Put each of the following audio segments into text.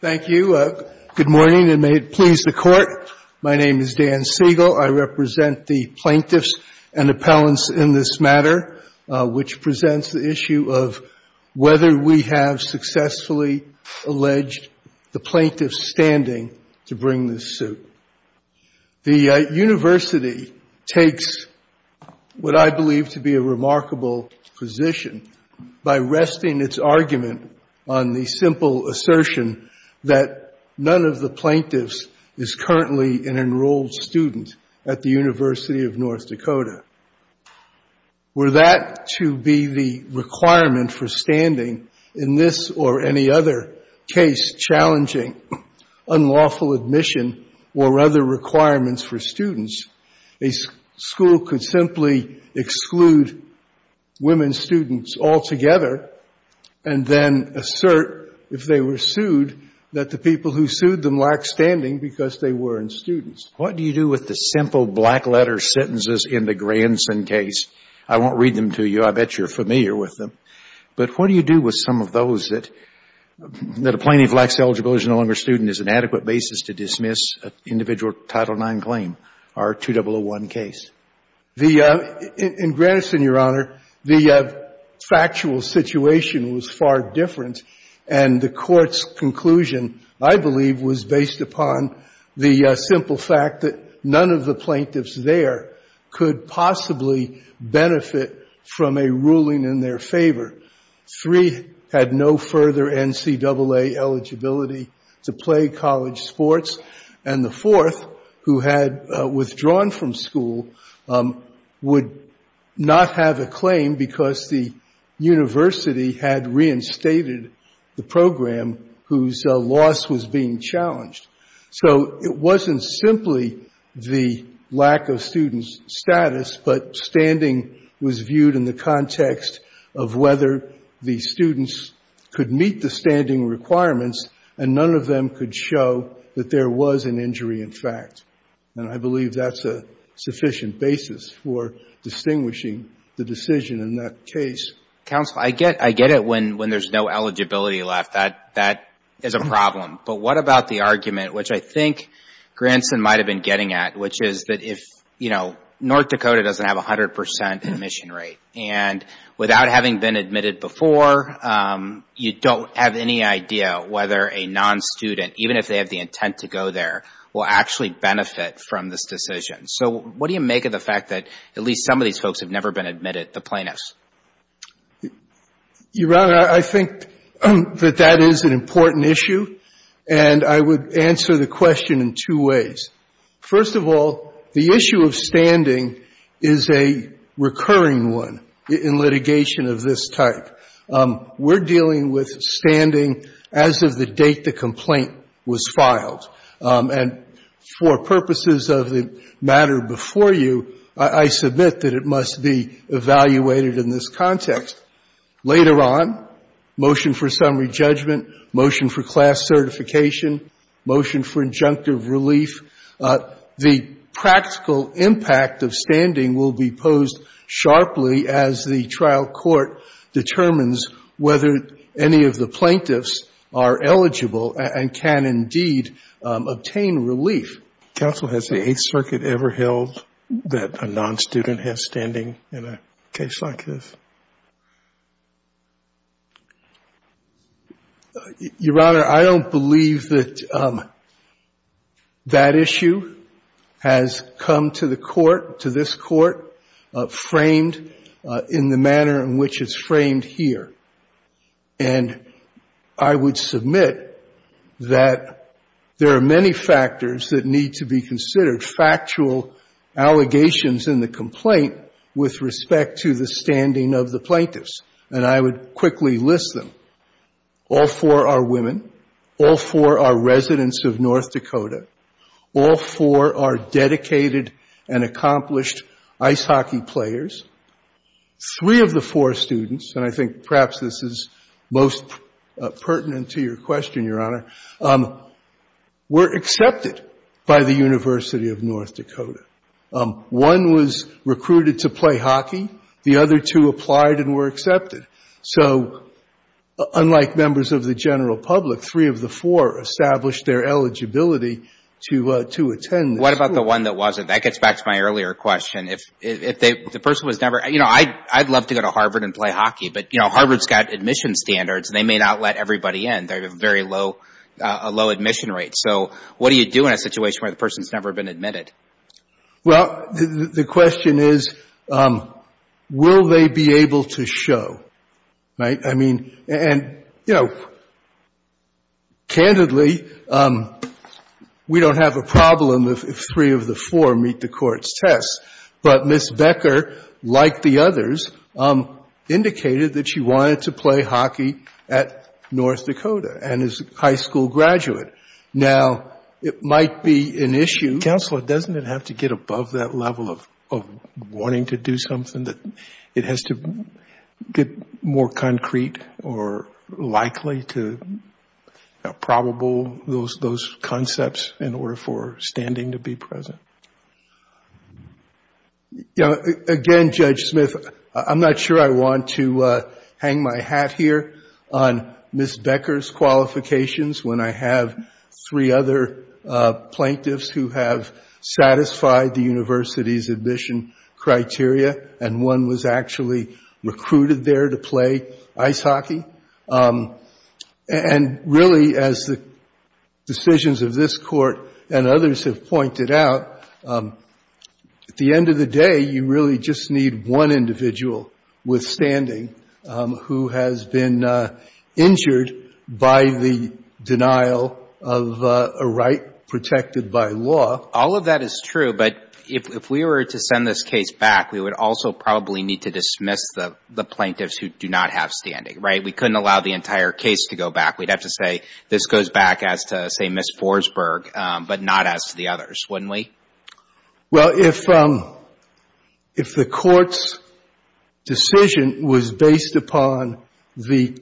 Thank you. Good morning, and may it please the court. My name is Dan Siegel. I represent the plaintiffs and appellants in this matter, which presents the issue of whether we have successfully alleged the plaintiff's standing to bring this suit. The university takes what I believe to be a remarkable position by resting its argument on the simple assertion that none of the plaintiffs is currently an enrolled student at the University of North Dakota. Were that to be the requirement for standing in this or any other case challenging unlawful admission or other requirements for students, a school could simply exclude women students altogether and then assert, if they were sued, that the people who sued them lacked standing because they weren't students. What do you do with the simple black-letter sentences in the Granson case? I won't read them to you. I bet you're familiar with them. But what do you do with some of those that a plaintiff lacks eligibility and is no longer a student is an adequate basis to dismiss an individual Title IX claim or a 2001 case? In Granson, Your Honor, the factual situation was far different, and the court's conclusion, I believe, was based upon the simple fact that none of the plaintiffs there could possibly benefit from a ruling in their favor. Three had no further NCAA eligibility to play college sports, and the fourth, who had withdrawn from school, would not have a claim because the university had reinstated the program whose loss was being challenged. So it wasn't simply the lack of students' status, but standing was viewed in the context of whether the students could meet the standing requirements, and none of them could show that there was an injury, in fact. And I believe that's a sufficient basis for distinguishing the decision in that case. I get it when there's no eligibility left. That is a problem. But what about the argument, which I think Granson might have been getting at, which is that if, you know, North Dakota doesn't have 100 percent admission rate, and without having been admitted before, you don't have any idea whether a non-student, even if they have the intent to go there, will actually benefit from this decision. So what do you make of the fact that at least some of these folks have never been admitted, the plaintiffs? Your Honor, I think that that is an important issue, and I would answer the question in two ways. First of all, the issue of standing is a recurring one in litigation of this type. We're dealing with standing as of the date the complaint was filed. And for purposes of the matter before you, I submit that it must be evaluated in this context. Later on, motion for summary judgment, motion for class certification, motion for injunctive relief. The practical impact of standing will be posed sharply as the trial court determines whether any of the plaintiffs are eligible and can indeed obtain relief. Counsel, has the Eighth Circuit ever held that a non-student has standing in a case like this? Your Honor, I don't believe that that issue has come to the Court, to this Court, framed in the manner in which it's framed here. And I would submit that there are many factors that need to be considered, factual allegations in the complaint with respect to the standing of the plaintiff. And I would quickly list them. All four are women. All four are residents of North Dakota. All four are dedicated and accomplished ice hockey players. Three of the four students, and I think perhaps this is most pertinent to your question, Your Honor, were accepted by the University of North Dakota. One was recruited to play hockey. The other two applied and were accepted. So unlike members of the general public, three of the four established their eligibility to attend the school. What about the one that wasn't? That gets back to my earlier question. If the person was never, you know, I'd love to go to Harvard and play hockey, but, you know, Harvard's got admission standards, and they may not let everybody in. They have a very low admission rate. So what do you do in a situation where the person's never been admitted? Well, the question is, will they be able to show? Right? I mean, and, you know, candidly, we don't have a problem if three of the four meet the Court's tests. But Ms. Becker, like the others, indicated that she wanted to play hockey at North Dakota and is a high school graduate. Now, it might be an issue. Counselor, doesn't it have to get above that level of wanting to do something that it has to get more concrete or likely to probable those concepts in order for standing to be present? You know, again, Judge Smith, I'm not sure I want to hang my hat here on Ms. Becker's qualifications, when I have three other plaintiffs who have satisfied the university's admission criteria, and one was actually recruited there to play ice hockey. And really, as the decisions of this Court and others have pointed out, at the end of the day, it's a matter of the court. At the end of the day, you really just need one individual with standing who has been injured by the denial of a right protected by law. All of that is true, but if we were to send this case back, we would also probably need to dismiss the plaintiffs who do not have standing, right? We couldn't allow the entire case to go back. We'd have to say, this goes back as to, say, Ms. Forsberg, but not as to the others, wouldn't we? Well, if the Court's decision was based upon the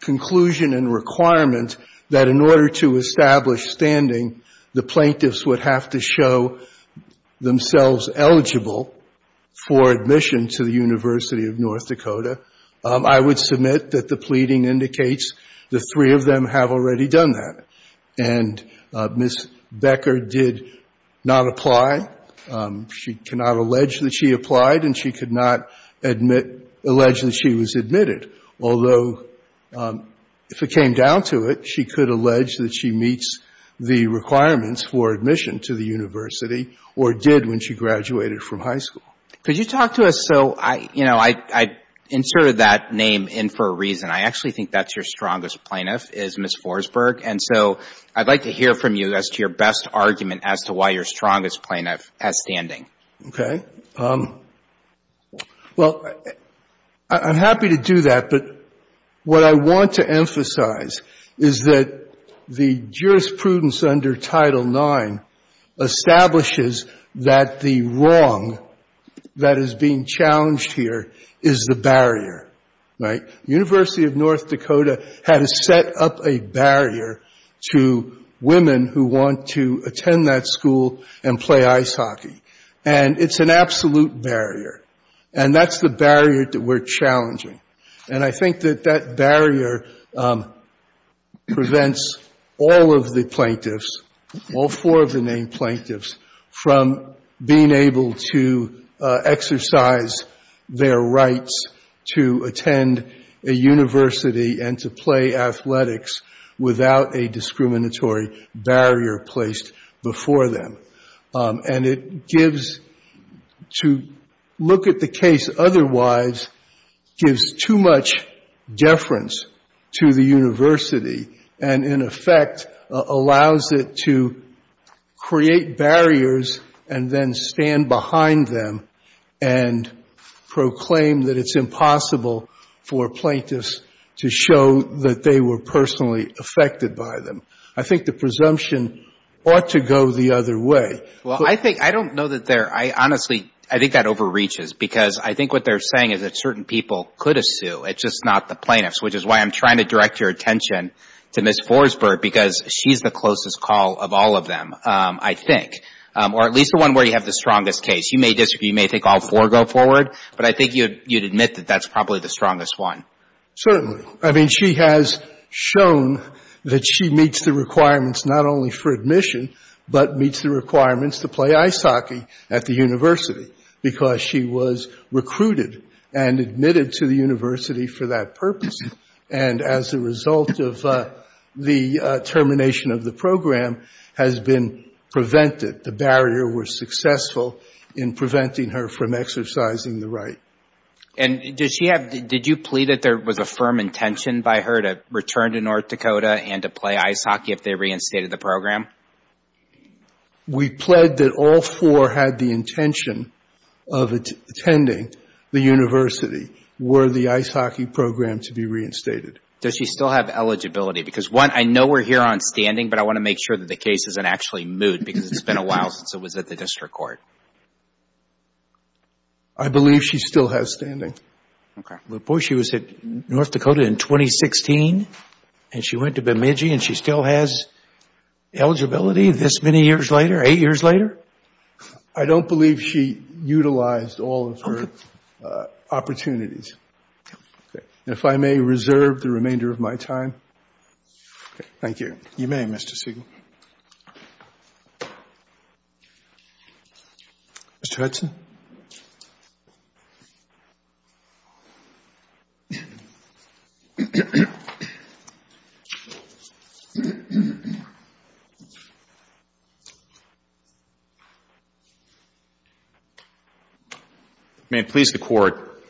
conclusion and requirement that in order to establish standing, the plaintiffs would have to show themselves eligible for admission to the University of North Dakota, I would submit that the pleading in this case would have to go back. And Ms. Becker did not apply. She cannot allege that she applied, and she could not admit — allege that she was admitted, although if it came down to it, she could allege that she meets the requirements for admission to the university or did when she graduated from high school. Could you talk to us — so, you know, I inserted that name in for a reason. I actually think that's your strongest plaintiff, is Ms. Forsberg, and so I'd like to hear from you as to your best argument as to why your strongest plaintiff has standing. Okay. Well, I'm happy to do that, but what I want to emphasize is that the jurisprudence under Title IX establishes that the wrong that is being challenged here is the barrier, right? The University of North Dakota had to set up a barrier to women who want to attend that school and play ice hockey. And it's an absolute barrier, and that's the barrier that we're challenging. And I think that that barrier prevents all of the plaintiffs, all four of the named plaintiffs, from being able to exercise their rights to attend a university and to play athletics without a discriminatory barrier placed before them. And it gives — to look at the case otherwise gives too much deference to the university and, in effect, allows it to create barriers and then stand behind them and proclaim that it's impossible for plaintiffs to show that they were personally affected by them. I think the presumption ought to go the other way. Well, I think — I don't know that there — I honestly — I think that overreaches, because I think what they're saying is that certain people could have sued, it's just not the plaintiffs, which is why I'm trying to direct your attention to Ms. Forsberg, because she's the closest call of all of them, I think, or at least the one where you have the strongest case. You may disagree. You may think all four go forward, but I think you'd admit that that's probably the strongest one. Certainly. I mean, she has shown that she meets the requirements not only for admission, but meets the requirements to play ice hockey at the university, because she was recruited and admitted to the university for that purpose, and as a result of the termination of the program has been prevented. The barrier was successful in preventing her from exercising the right. And did she have — did you plead that there was a firm intention by her to return to North Dakota and to play ice hockey if they reinstated the program? We pled that all four had the intention of attending the university were the ice hockey program to be reinstated. Does she still have eligibility? Because, one, I know we're here on standing, but I want to make sure that the case isn't actually moot, because it's been a while since it was at the district court. I believe she still has standing. Okay. Well, boy, she was at North Dakota in 2016, and she went to Bemidji, and she still has eligibility this many years later, eight years later? I don't believe she utilized all of her opportunities. Okay. If I may reserve the remainder of my time. Thank you. You may, Mr. Siegel. Mr. Hudson. May it please the Court.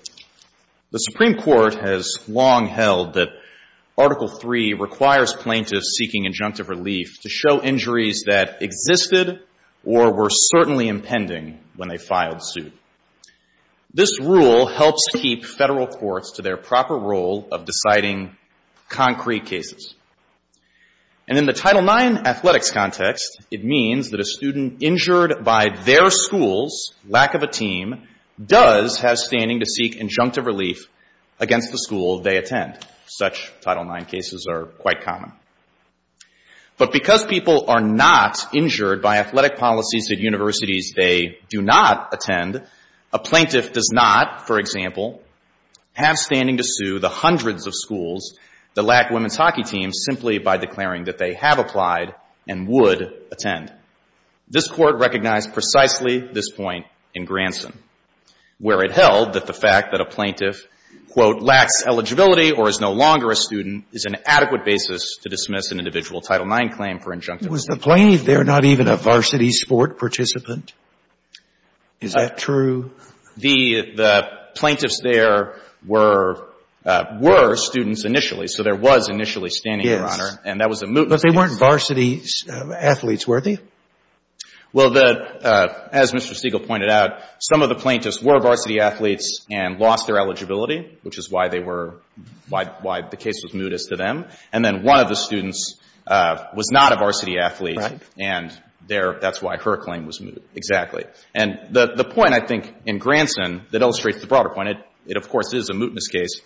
The Supreme Court has long held that Article III requires plaintiffs seeking injunctive relief to show injuries that existed or were certainly impending when they filed suit. This rule helps keep Federal courts to their proper role of deciding concrete cases. And in the Title IX athletics context, it means that a student injured by their school's lack of a team does have standing to seek injunctive relief. Such Title IX cases are quite common. But because people are not injured by athletic policies at universities they do not attend, a plaintiff does not, for example, have standing to sue the hundreds of schools that lack women's hockey teams simply by declaring that they have applied and would attend. This Court recognized precisely this point in Granson, where it held that the fact that a plaintiff, quote, lacks eligibility or is no longer a student is an adequate basis to dismiss an individual Title IX claim for injunctive relief. Was the plaintiff there not even a varsity sport participant? Is that true? The plaintiffs there were students initially. So there was initially standing to honor. Yes. And that was a mootness. But they weren't varsity athletes, were they? Well, as Mr. Stegall pointed out, some of the plaintiffs were varsity athletes and lost their eligibility, which is why they were why the case was moot as to them. And then one of the students was not a varsity athlete. Right. And that's why her claim was moot. Exactly. And the point, I think, in Granson that illustrates the broader point, it, of course, is a mootness case,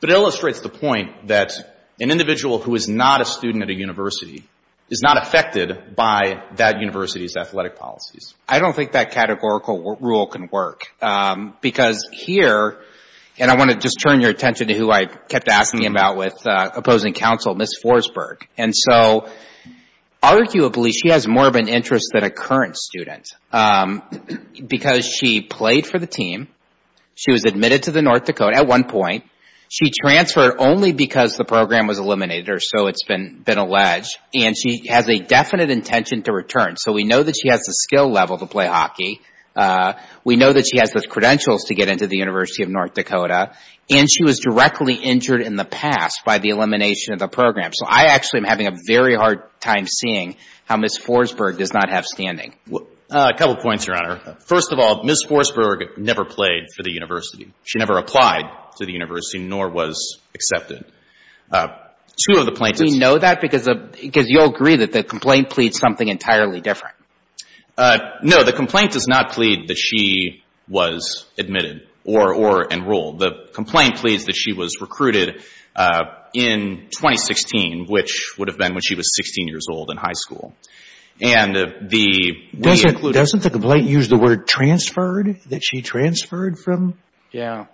but it illustrates the point that an individual who is not a student at a university is not affected by that university's athletic policies. I don't think that categorical rule can work, because here, and I want to just turn your attention to who I kept asking about with opposing counsel, Ms. Forsberg. And so, arguably, she has more of an interest than a current student, because she played for the team, she was admitted to the North Dakota at one point, she transferred only because the program was eliminated, or so it's been alleged, and she has a definite intention to return. So we know that she has the skill level to play hockey, we know that she has the credentials to get into the University of North Dakota, and she was directly injured in the past by the elimination of the program. So I actually am having a very hard time seeing how Ms. Forsberg does not have standing. A couple points, Your Honor. First of all, Ms. Forsberg never played for the university. She never applied to the university, nor was accepted. Do we know that? Because you'll agree that the complaint pleads something entirely different. No, the complaint does not plead that she was admitted or enrolled. The complaint pleads that she was recruited in 2016, which would have been when she was 16 years old in high school. And the we include her. Doesn't the complaint use the word transferred, that she transferred from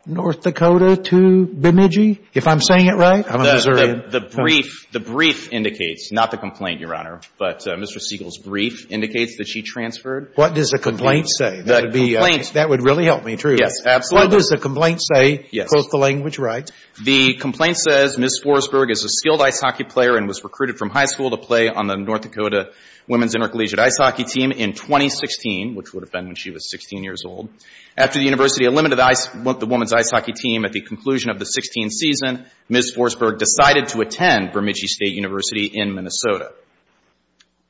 North Dakota to Bemidji? If I'm saying it right, I'm a Missourian. The brief indicates, not the complaint, Your Honor, but Mr. Siegel's brief indicates that she transferred. What does the complaint say? That would really help me, truly. Yes, absolutely. What does the complaint say? Yes. Is the language right? The complaint says Ms. Forsberg is a skilled ice hockey player and was recruited from high school to play on the North Dakota women's intercollegiate ice hockey team in 2016, which would have been when she was 16 years old. After the university eliminated the women's ice hockey team at the conclusion of the 16th season, Ms. Forsberg decided to attend Bemidji State University in Minnesota.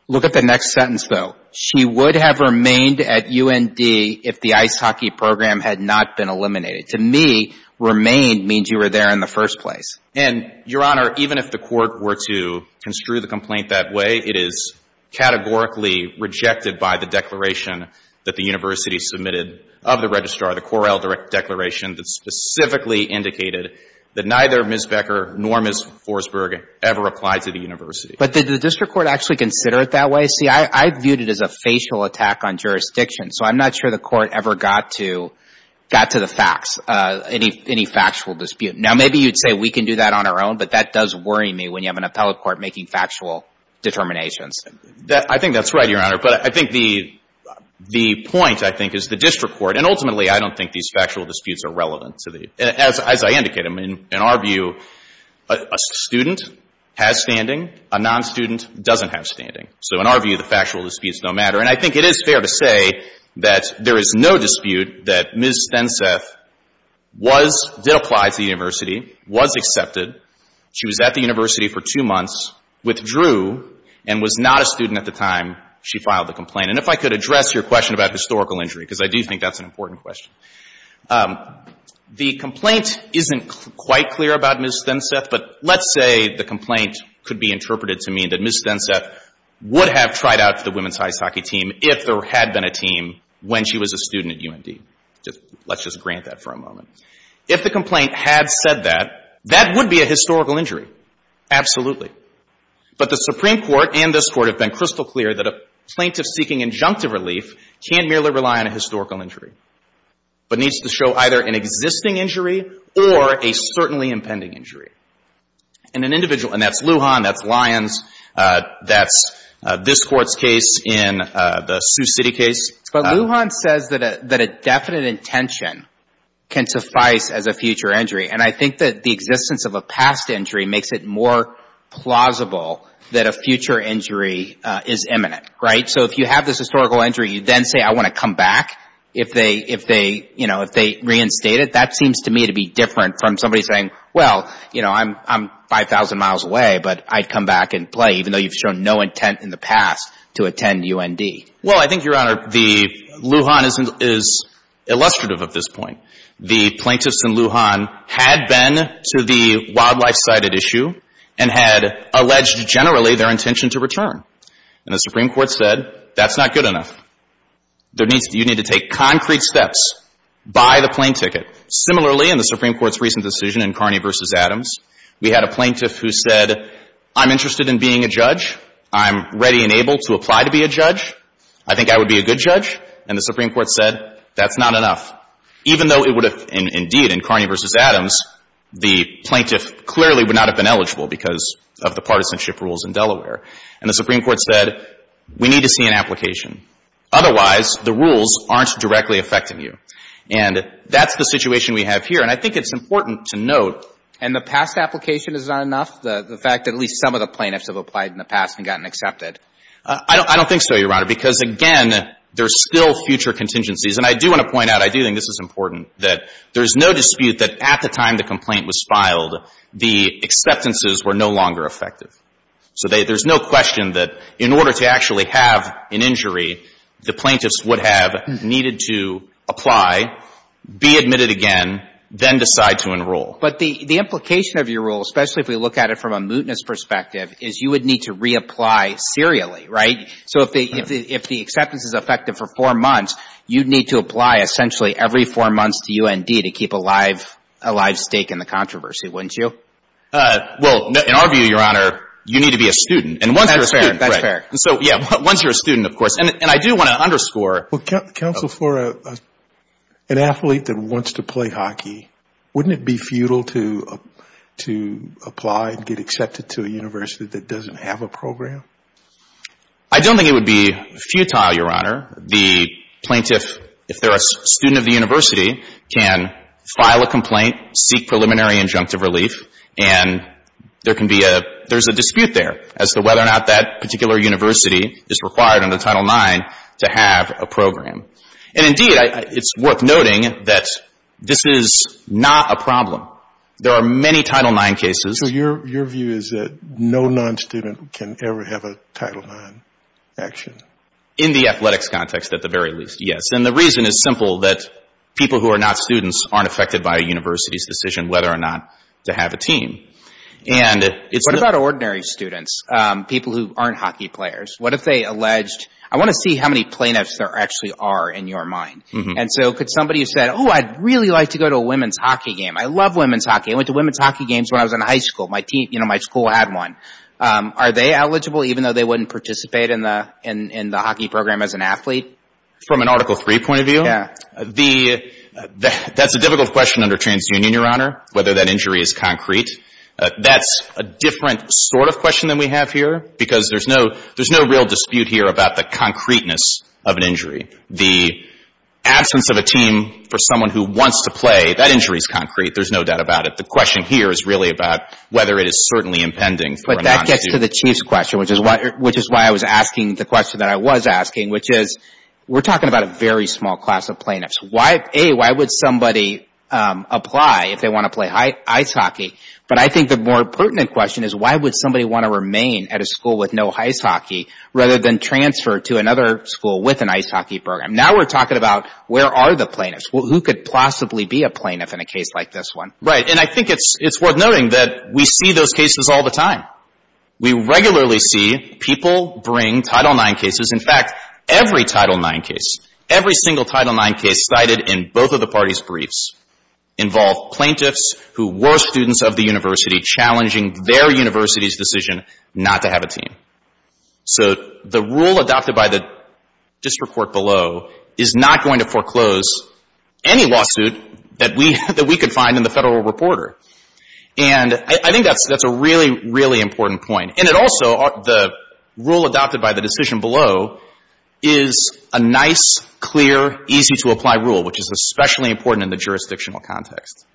Look at the next sentence, though. She would have remained at UND if the ice hockey program had not been eliminated. To me, remained means you were there in the first place. And, Your Honor, even if the court were to construe the complaint that way, it is categorically rejected by the declaration that the university submitted of the registrar, the Correll declaration that specifically indicated that neither Ms. Becker nor Ms. Forsberg ever applied to the university. But did the district court actually consider it that way? See, I viewed it as a facial attack on jurisdiction. So I'm not sure the court ever got to the facts, any factual dispute. Now, maybe you'd say we can do that on our own, but that does worry me when you have an appellate court making factual determinations. I think that's right, Your Honor. But I think the point, I think, is the district court. And ultimately, I don't think these factual disputes are relevant. As I indicated, in our view, a student has standing. A non-student doesn't have standing. So in our view, the factual disputes don't matter. And I think it is fair to say that there is no dispute that Ms. Stenseth was, did apply to the university, was accepted. She was at the university for two months, withdrew, and was not a student at the time she filed the complaint. And if I could address your question about historical injury, because I do think that's an important question. The complaint isn't quite clear about Ms. Stenseth, but let's say the complaint could be interpreted to mean that Ms. Stenseth would have tried out for the women's hockey team if there had been a team when she was a student at UND. Let's just grant that for a moment. If the complaint had said that, that would be a historical injury. Absolutely. But the Supreme Court and this Court have been crystal clear that a plaintiff seeking injunctive relief can't merely rely on a historical injury, but needs to show either an existing injury or a certainly impending injury. And an individual, and that's Lujan, that's Lyons, that's this Court's case in the Sioux City case. But Lujan says that a definite intention can suffice as a future injury. And I think that the existence of a past injury makes it more plausible that a future injury is imminent. Right? So if you have this historical injury, you then say, I want to come back if they, you know, if they reinstate it. That seems to me to be different from somebody saying, well, you know, I'm 5,000 miles away, but I'd come back and play even though you've shown no intent in the past to attend UND. Well, I think, Your Honor, Lujan is illustrative of this point. The plaintiffs in Lujan had been to the wildlife-sided issue and had alleged generally their intention to return. And the Supreme Court said, that's not good enough. You need to take concrete steps. Buy the plane ticket. Similarly, in the Supreme Court's recent decision in Carney v. Adams, we had a plaintiff who said, I'm interested in being a judge. I'm ready and able to apply to be a judge. I think I would be a good judge. And the Supreme Court said, that's not enough. Even though it would have, indeed, in Carney v. Adams, the plaintiff clearly would not have been eligible because of the partisanship rules in Delaware. And the Supreme Court said, we need to see an application. Otherwise, the rules aren't directly affecting you. And that's the situation we have here. And I think it's important to note. And the past application is not enough? The fact that at least some of the plaintiffs have applied in the past and gotten accepted? I don't think so, Your Honor, because, again, there's still future contingencies. And I do want to point out, I do think this is important, that there's no dispute that at the time the complaint was filed, the acceptances were no longer effective. So there's no question that in order to actually have an injury, the plaintiffs would have needed to apply, be admitted again, then decide to enroll. But the implication of your rule, especially if we look at it from a mootness perspective, is you would need to reapply serially, right? So if the acceptance is effective for four months, you'd need to apply essentially every four months to UND to keep a live stake in the controversy, wouldn't you? Well, in our view, Your Honor, you need to be a student. And once you're a student, right. That's fair. And so, yeah, once you're a student, of course. And I do want to underscore. Well, counsel, for an athlete that wants to play hockey, wouldn't it be futile to apply and get accepted to a university that doesn't have a program? I don't think it would be futile, Your Honor. You can't seek preliminary injunctive relief. And there can be a – there's a dispute there as to whether or not that particular university is required under Title IX to have a program. And, indeed, it's worth noting that this is not a problem. There are many Title IX cases. So your view is that no non-student can ever have a Title IX action? In the athletics context, at the very least, yes. And the reason is simple, that people who are not students aren't affected by a university's decision whether or not to have a team. And it's – What about ordinary students, people who aren't hockey players? What if they alleged – I want to see how many plaintiffs there actually are in your mind. And so could somebody have said, oh, I'd really like to go to a women's hockey game. I love women's hockey. I went to women's hockey games when I was in high school. My team – you know, my school had one. Are they eligible even though they wouldn't participate in the hockey program as an athlete? From an Article III point of view? Yeah. That's a difficult question under TransUnion, Your Honor, whether that injury is concrete. That's a different sort of question than we have here because there's no real dispute here about the concreteness of an injury. The absence of a team for someone who wants to play, that injury is concrete. There's no doubt about it. The question here is really about whether it is certainly impending for a non-student. But that gets to the Chief's question, which is why I was asking the question that I was asking, which is we're talking about a very small class of plaintiffs. A, why would somebody apply if they want to play ice hockey? But I think the more pertinent question is why would somebody want to remain at a school with no ice hockey rather than transfer to another school with an ice hockey program? Now we're talking about where are the plaintiffs? Who could possibly be a plaintiff in a case like this one? Right. And I think it's worth noting that we see those cases all the time. We regularly see people bring Title IX cases. In fact, every Title IX case, every single Title IX case cited in both of the parties' briefs involved plaintiffs who were students of the university challenging their university's decision not to have a team. So the rule adopted by the district court below is not going to foreclose any lawsuit that we could find in the Federal Reporter. And I think that's a really, really important point. And it also, the rule adopted by the decision below is a nice, clear, easy-to-apply rule, which is especially important in the jurisdictional context.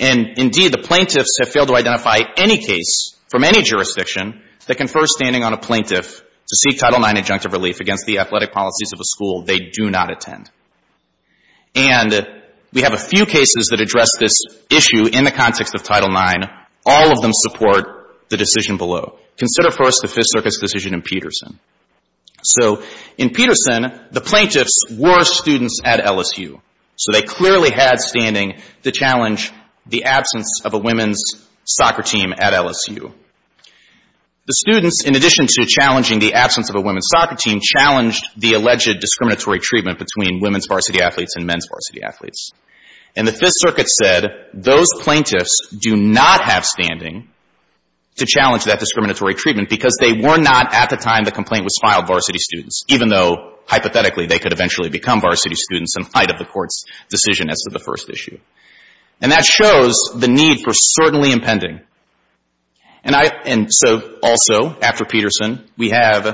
And, indeed, the plaintiffs have failed to identify any case from any jurisdiction that confers standing on a plaintiff to seek Title IX adjunctive relief against the athletic policies of a school they do not attend. And we have a few cases that address this issue in the context of Title IX. And all of them support the decision below. Consider, first, the Fifth Circuit's decision in Peterson. So in Peterson, the plaintiffs were students at LSU. So they clearly had standing to challenge the absence of a women's soccer team at LSU. The students, in addition to challenging the absence of a women's soccer team, challenged the alleged discriminatory treatment between women's varsity athletes and men's varsity athletes. And the Fifth Circuit said, those plaintiffs do not have standing to challenge that discriminatory treatment because they were not, at the time the complaint was filed, varsity students, even though, hypothetically, they could eventually become varsity students in light of the Court's decision as to the first issue. And that shows the need for certainly impending. And I — and so, also, after Peterson, we have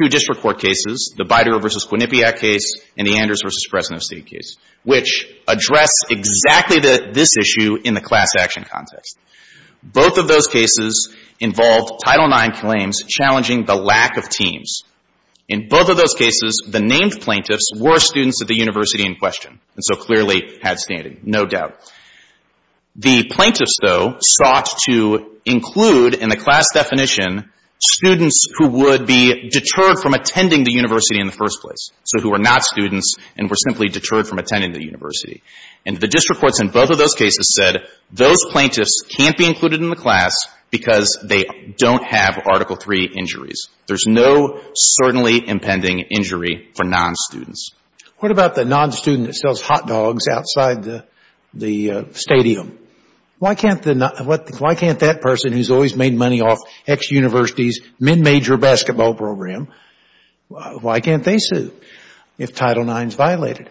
two district court cases, the Bider v. Quinnipiac case and the Anders v. Fresno City case, which address exactly this issue in the class action context. Both of those cases involved Title IX claims challenging the lack of teams. In both of those cases, the named plaintiffs were students at the university in question and so clearly had standing, no doubt. The plaintiffs, though, sought to include in the class definition students who would be deterred from attending the university in the first place, so who were not students and were simply deterred from attending the university. And the district courts in both of those cases said, those plaintiffs can't be included in the class because they don't have Article III injuries. There's no certainly impending injury for non-students. What about the non-student that sells hot dogs outside the stadium? Why can't the — why can't that person, who's always made money off ex-university's in major basketball program, why can't they sue if Title IX is violated?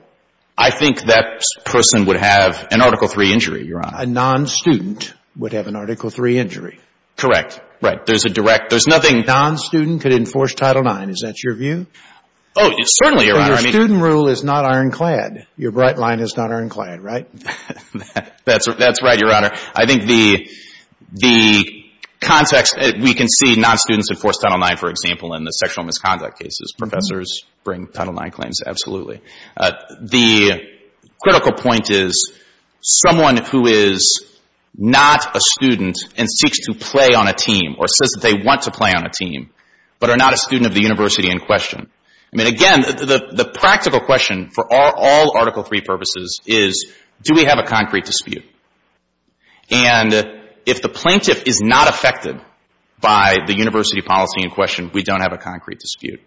I think that person would have an Article III injury, Your Honor. A non-student would have an Article III injury. Correct. Right. There's a direct — there's nothing — A non-student could enforce Title IX. Is that your view? Oh, certainly, Your Honor. Your student rule is not ironclad. Your bright line is not ironclad, right? That's right, Your Honor. I think the context — we can see non-students enforce Title IX, for example, in the sexual misconduct cases. Professors bring Title IX claims, absolutely. The critical point is someone who is not a student and seeks to play on a team or says that they want to play on a team but are not a student of the university in question. I mean, again, the practical question for all Article III purposes is, do we have a concrete dispute? And if the plaintiff is not affected by the university policy in question, we don't have a concrete dispute.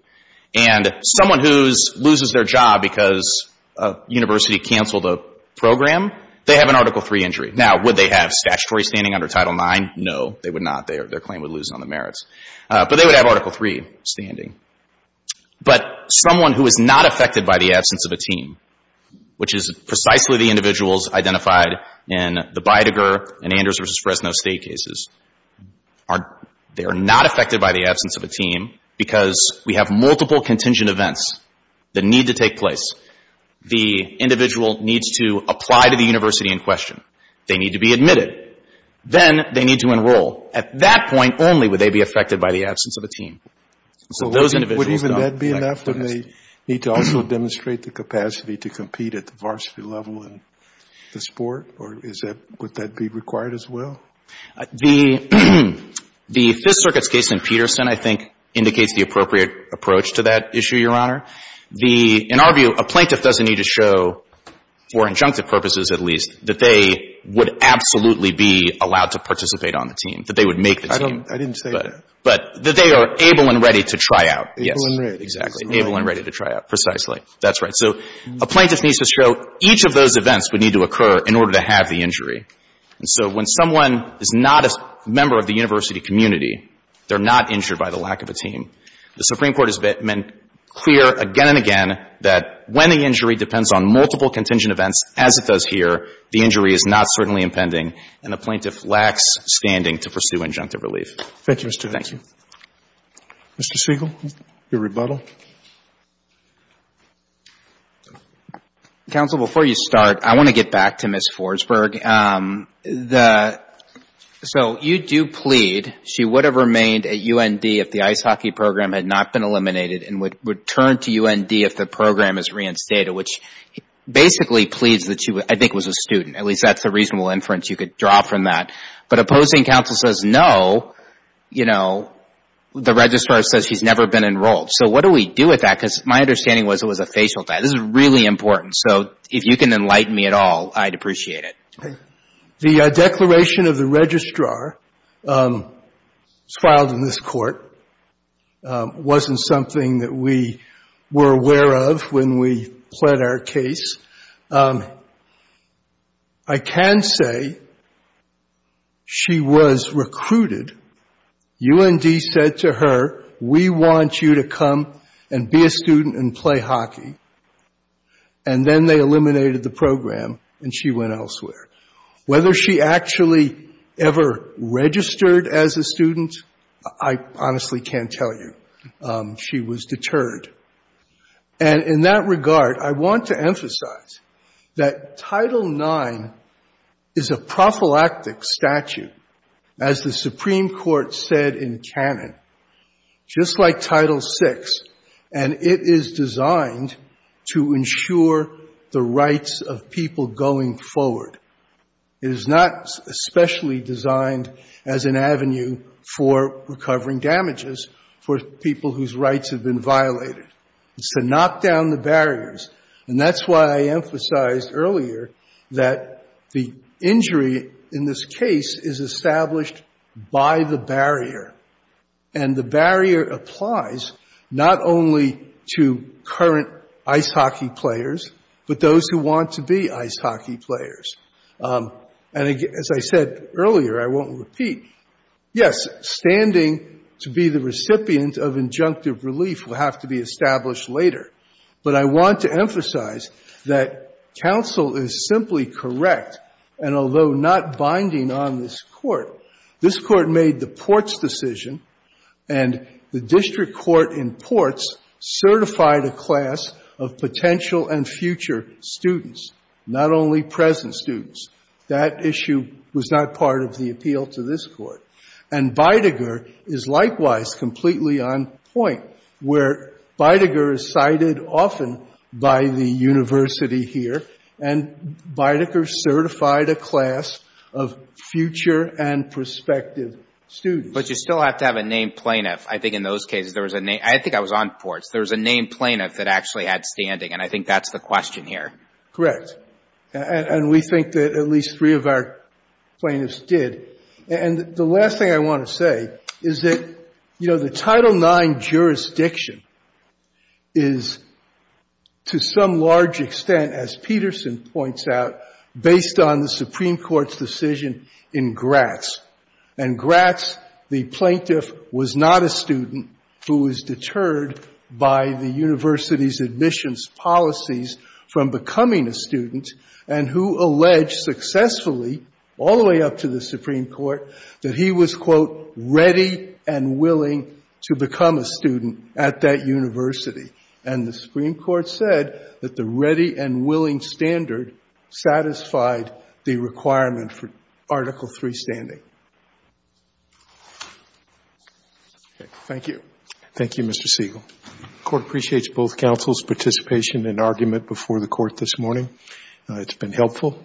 And someone who loses their job because a university canceled a program, they have an Article III injury. Now, would they have statutory standing under Title IX? No, they would not. Their claim would lose on the merits. But they would have Article III standing. But someone who is not affected by the absence of a team, which is precisely the individuals identified in the Beidiger and Anders v. Fresno State cases, they are not affected by the absence of a team because we have multiple contingent events that need to take place. The individual needs to apply to the university in question. They need to be admitted. Then they need to enroll. At that point only would they be affected by the absence of a team. Would even that be enough? Would they need to also demonstrate the capacity to compete at the varsity level in the sport? Or would that be required as well? The Fifth Circuit's case in Peterson, I think, indicates the appropriate approach to that issue, Your Honor. In our view, a plaintiff doesn't need to show, for injunctive purposes at least, that they would absolutely be allowed to participate on the team, that they would make the team. I didn't say that. But that they are able and ready to try out. Able and ready. Exactly. Able and ready to try out, precisely. That's right. So a plaintiff needs to show each of those events would need to occur in order to have the injury. And so when someone is not a member of the university community, they're not injured by the lack of a team. The Supreme Court has been clear again and again that when the injury depends on multiple contingent events, as it does here, the injury is not certainly impending and a plaintiff lacks standing to pursue injunctive relief. Thank you, Mr. Segal. Thank you. Mr. Segal, your rebuttal. Counsel, before you start, I want to get back to Ms. Forsberg. The — so you do plead she would have remained at UND if the ice hockey program had not been eliminated and would turn to UND if the program is reinstated, which basically pleads that she, I think, was a student. At least that's a reasonable inference you could draw from that. But opposing counsel says no, you know, the registrar says she's never been enrolled. So what do we do with that? Because my understanding was it was a facial tie. This is really important. So if you can enlighten me at all, I'd appreciate it. The declaration of the registrar was filed in this court, wasn't something that we were aware of when we pled our case. I can say she was recruited. UND said to her, we want you to come and be a student and play hockey. And then they eliminated the program and she went elsewhere. Whether she actually ever registered as a student, I honestly can't tell you. She was deterred. And in that regard, I want to emphasize that Title IX is a prophylactic statute, as the Supreme Court said in canon. Just like Title VI, and it is designed to ensure the rights of people going forward. It is not especially designed as an avenue for recovering damages for people whose rights have been violated. It's to knock down the barriers. And that's why I emphasized earlier that the injury in this case is established by the barrier. And the barrier applies not only to current ice hockey players, but those who want to be ice hockey players. And as I said earlier, I won't repeat, yes, standing to be the recipient of injunctive relief will have to be established later. But I want to emphasize that counsel is simply correct, and although not binding on this Court, this Court made the Ports decision, and the district court in Ports certified a class of potential and future students, not only present students. That issue was not part of the appeal to this Court. And Beidiger is likewise completely on point, where Beidiger is cited often by the university here, and Beidiger certified a class of future and prospective students. But you still have to have a named plaintiff. I think in those cases there was a name. I think I was on Ports. There was a named plaintiff that actually had standing, and I think that's the question here. Correct. And we think that at least three of our plaintiffs did. And the last thing I want to say is that the Title IX jurisdiction is, to some large extent, as Peterson points out, based on the Supreme Court's decision in Gratz. And Gratz, the plaintiff, was not a student who was deterred by the and who alleged successfully, all the way up to the Supreme Court, that he was, quote, ready and willing to become a student at that university. And the Supreme Court said that the ready and willing standard satisfied the requirement for Article III standing. Thank you. Thank you, Mr. Siegel. The Court appreciates both counsel's participation and argument before the hearing. It's been helpful.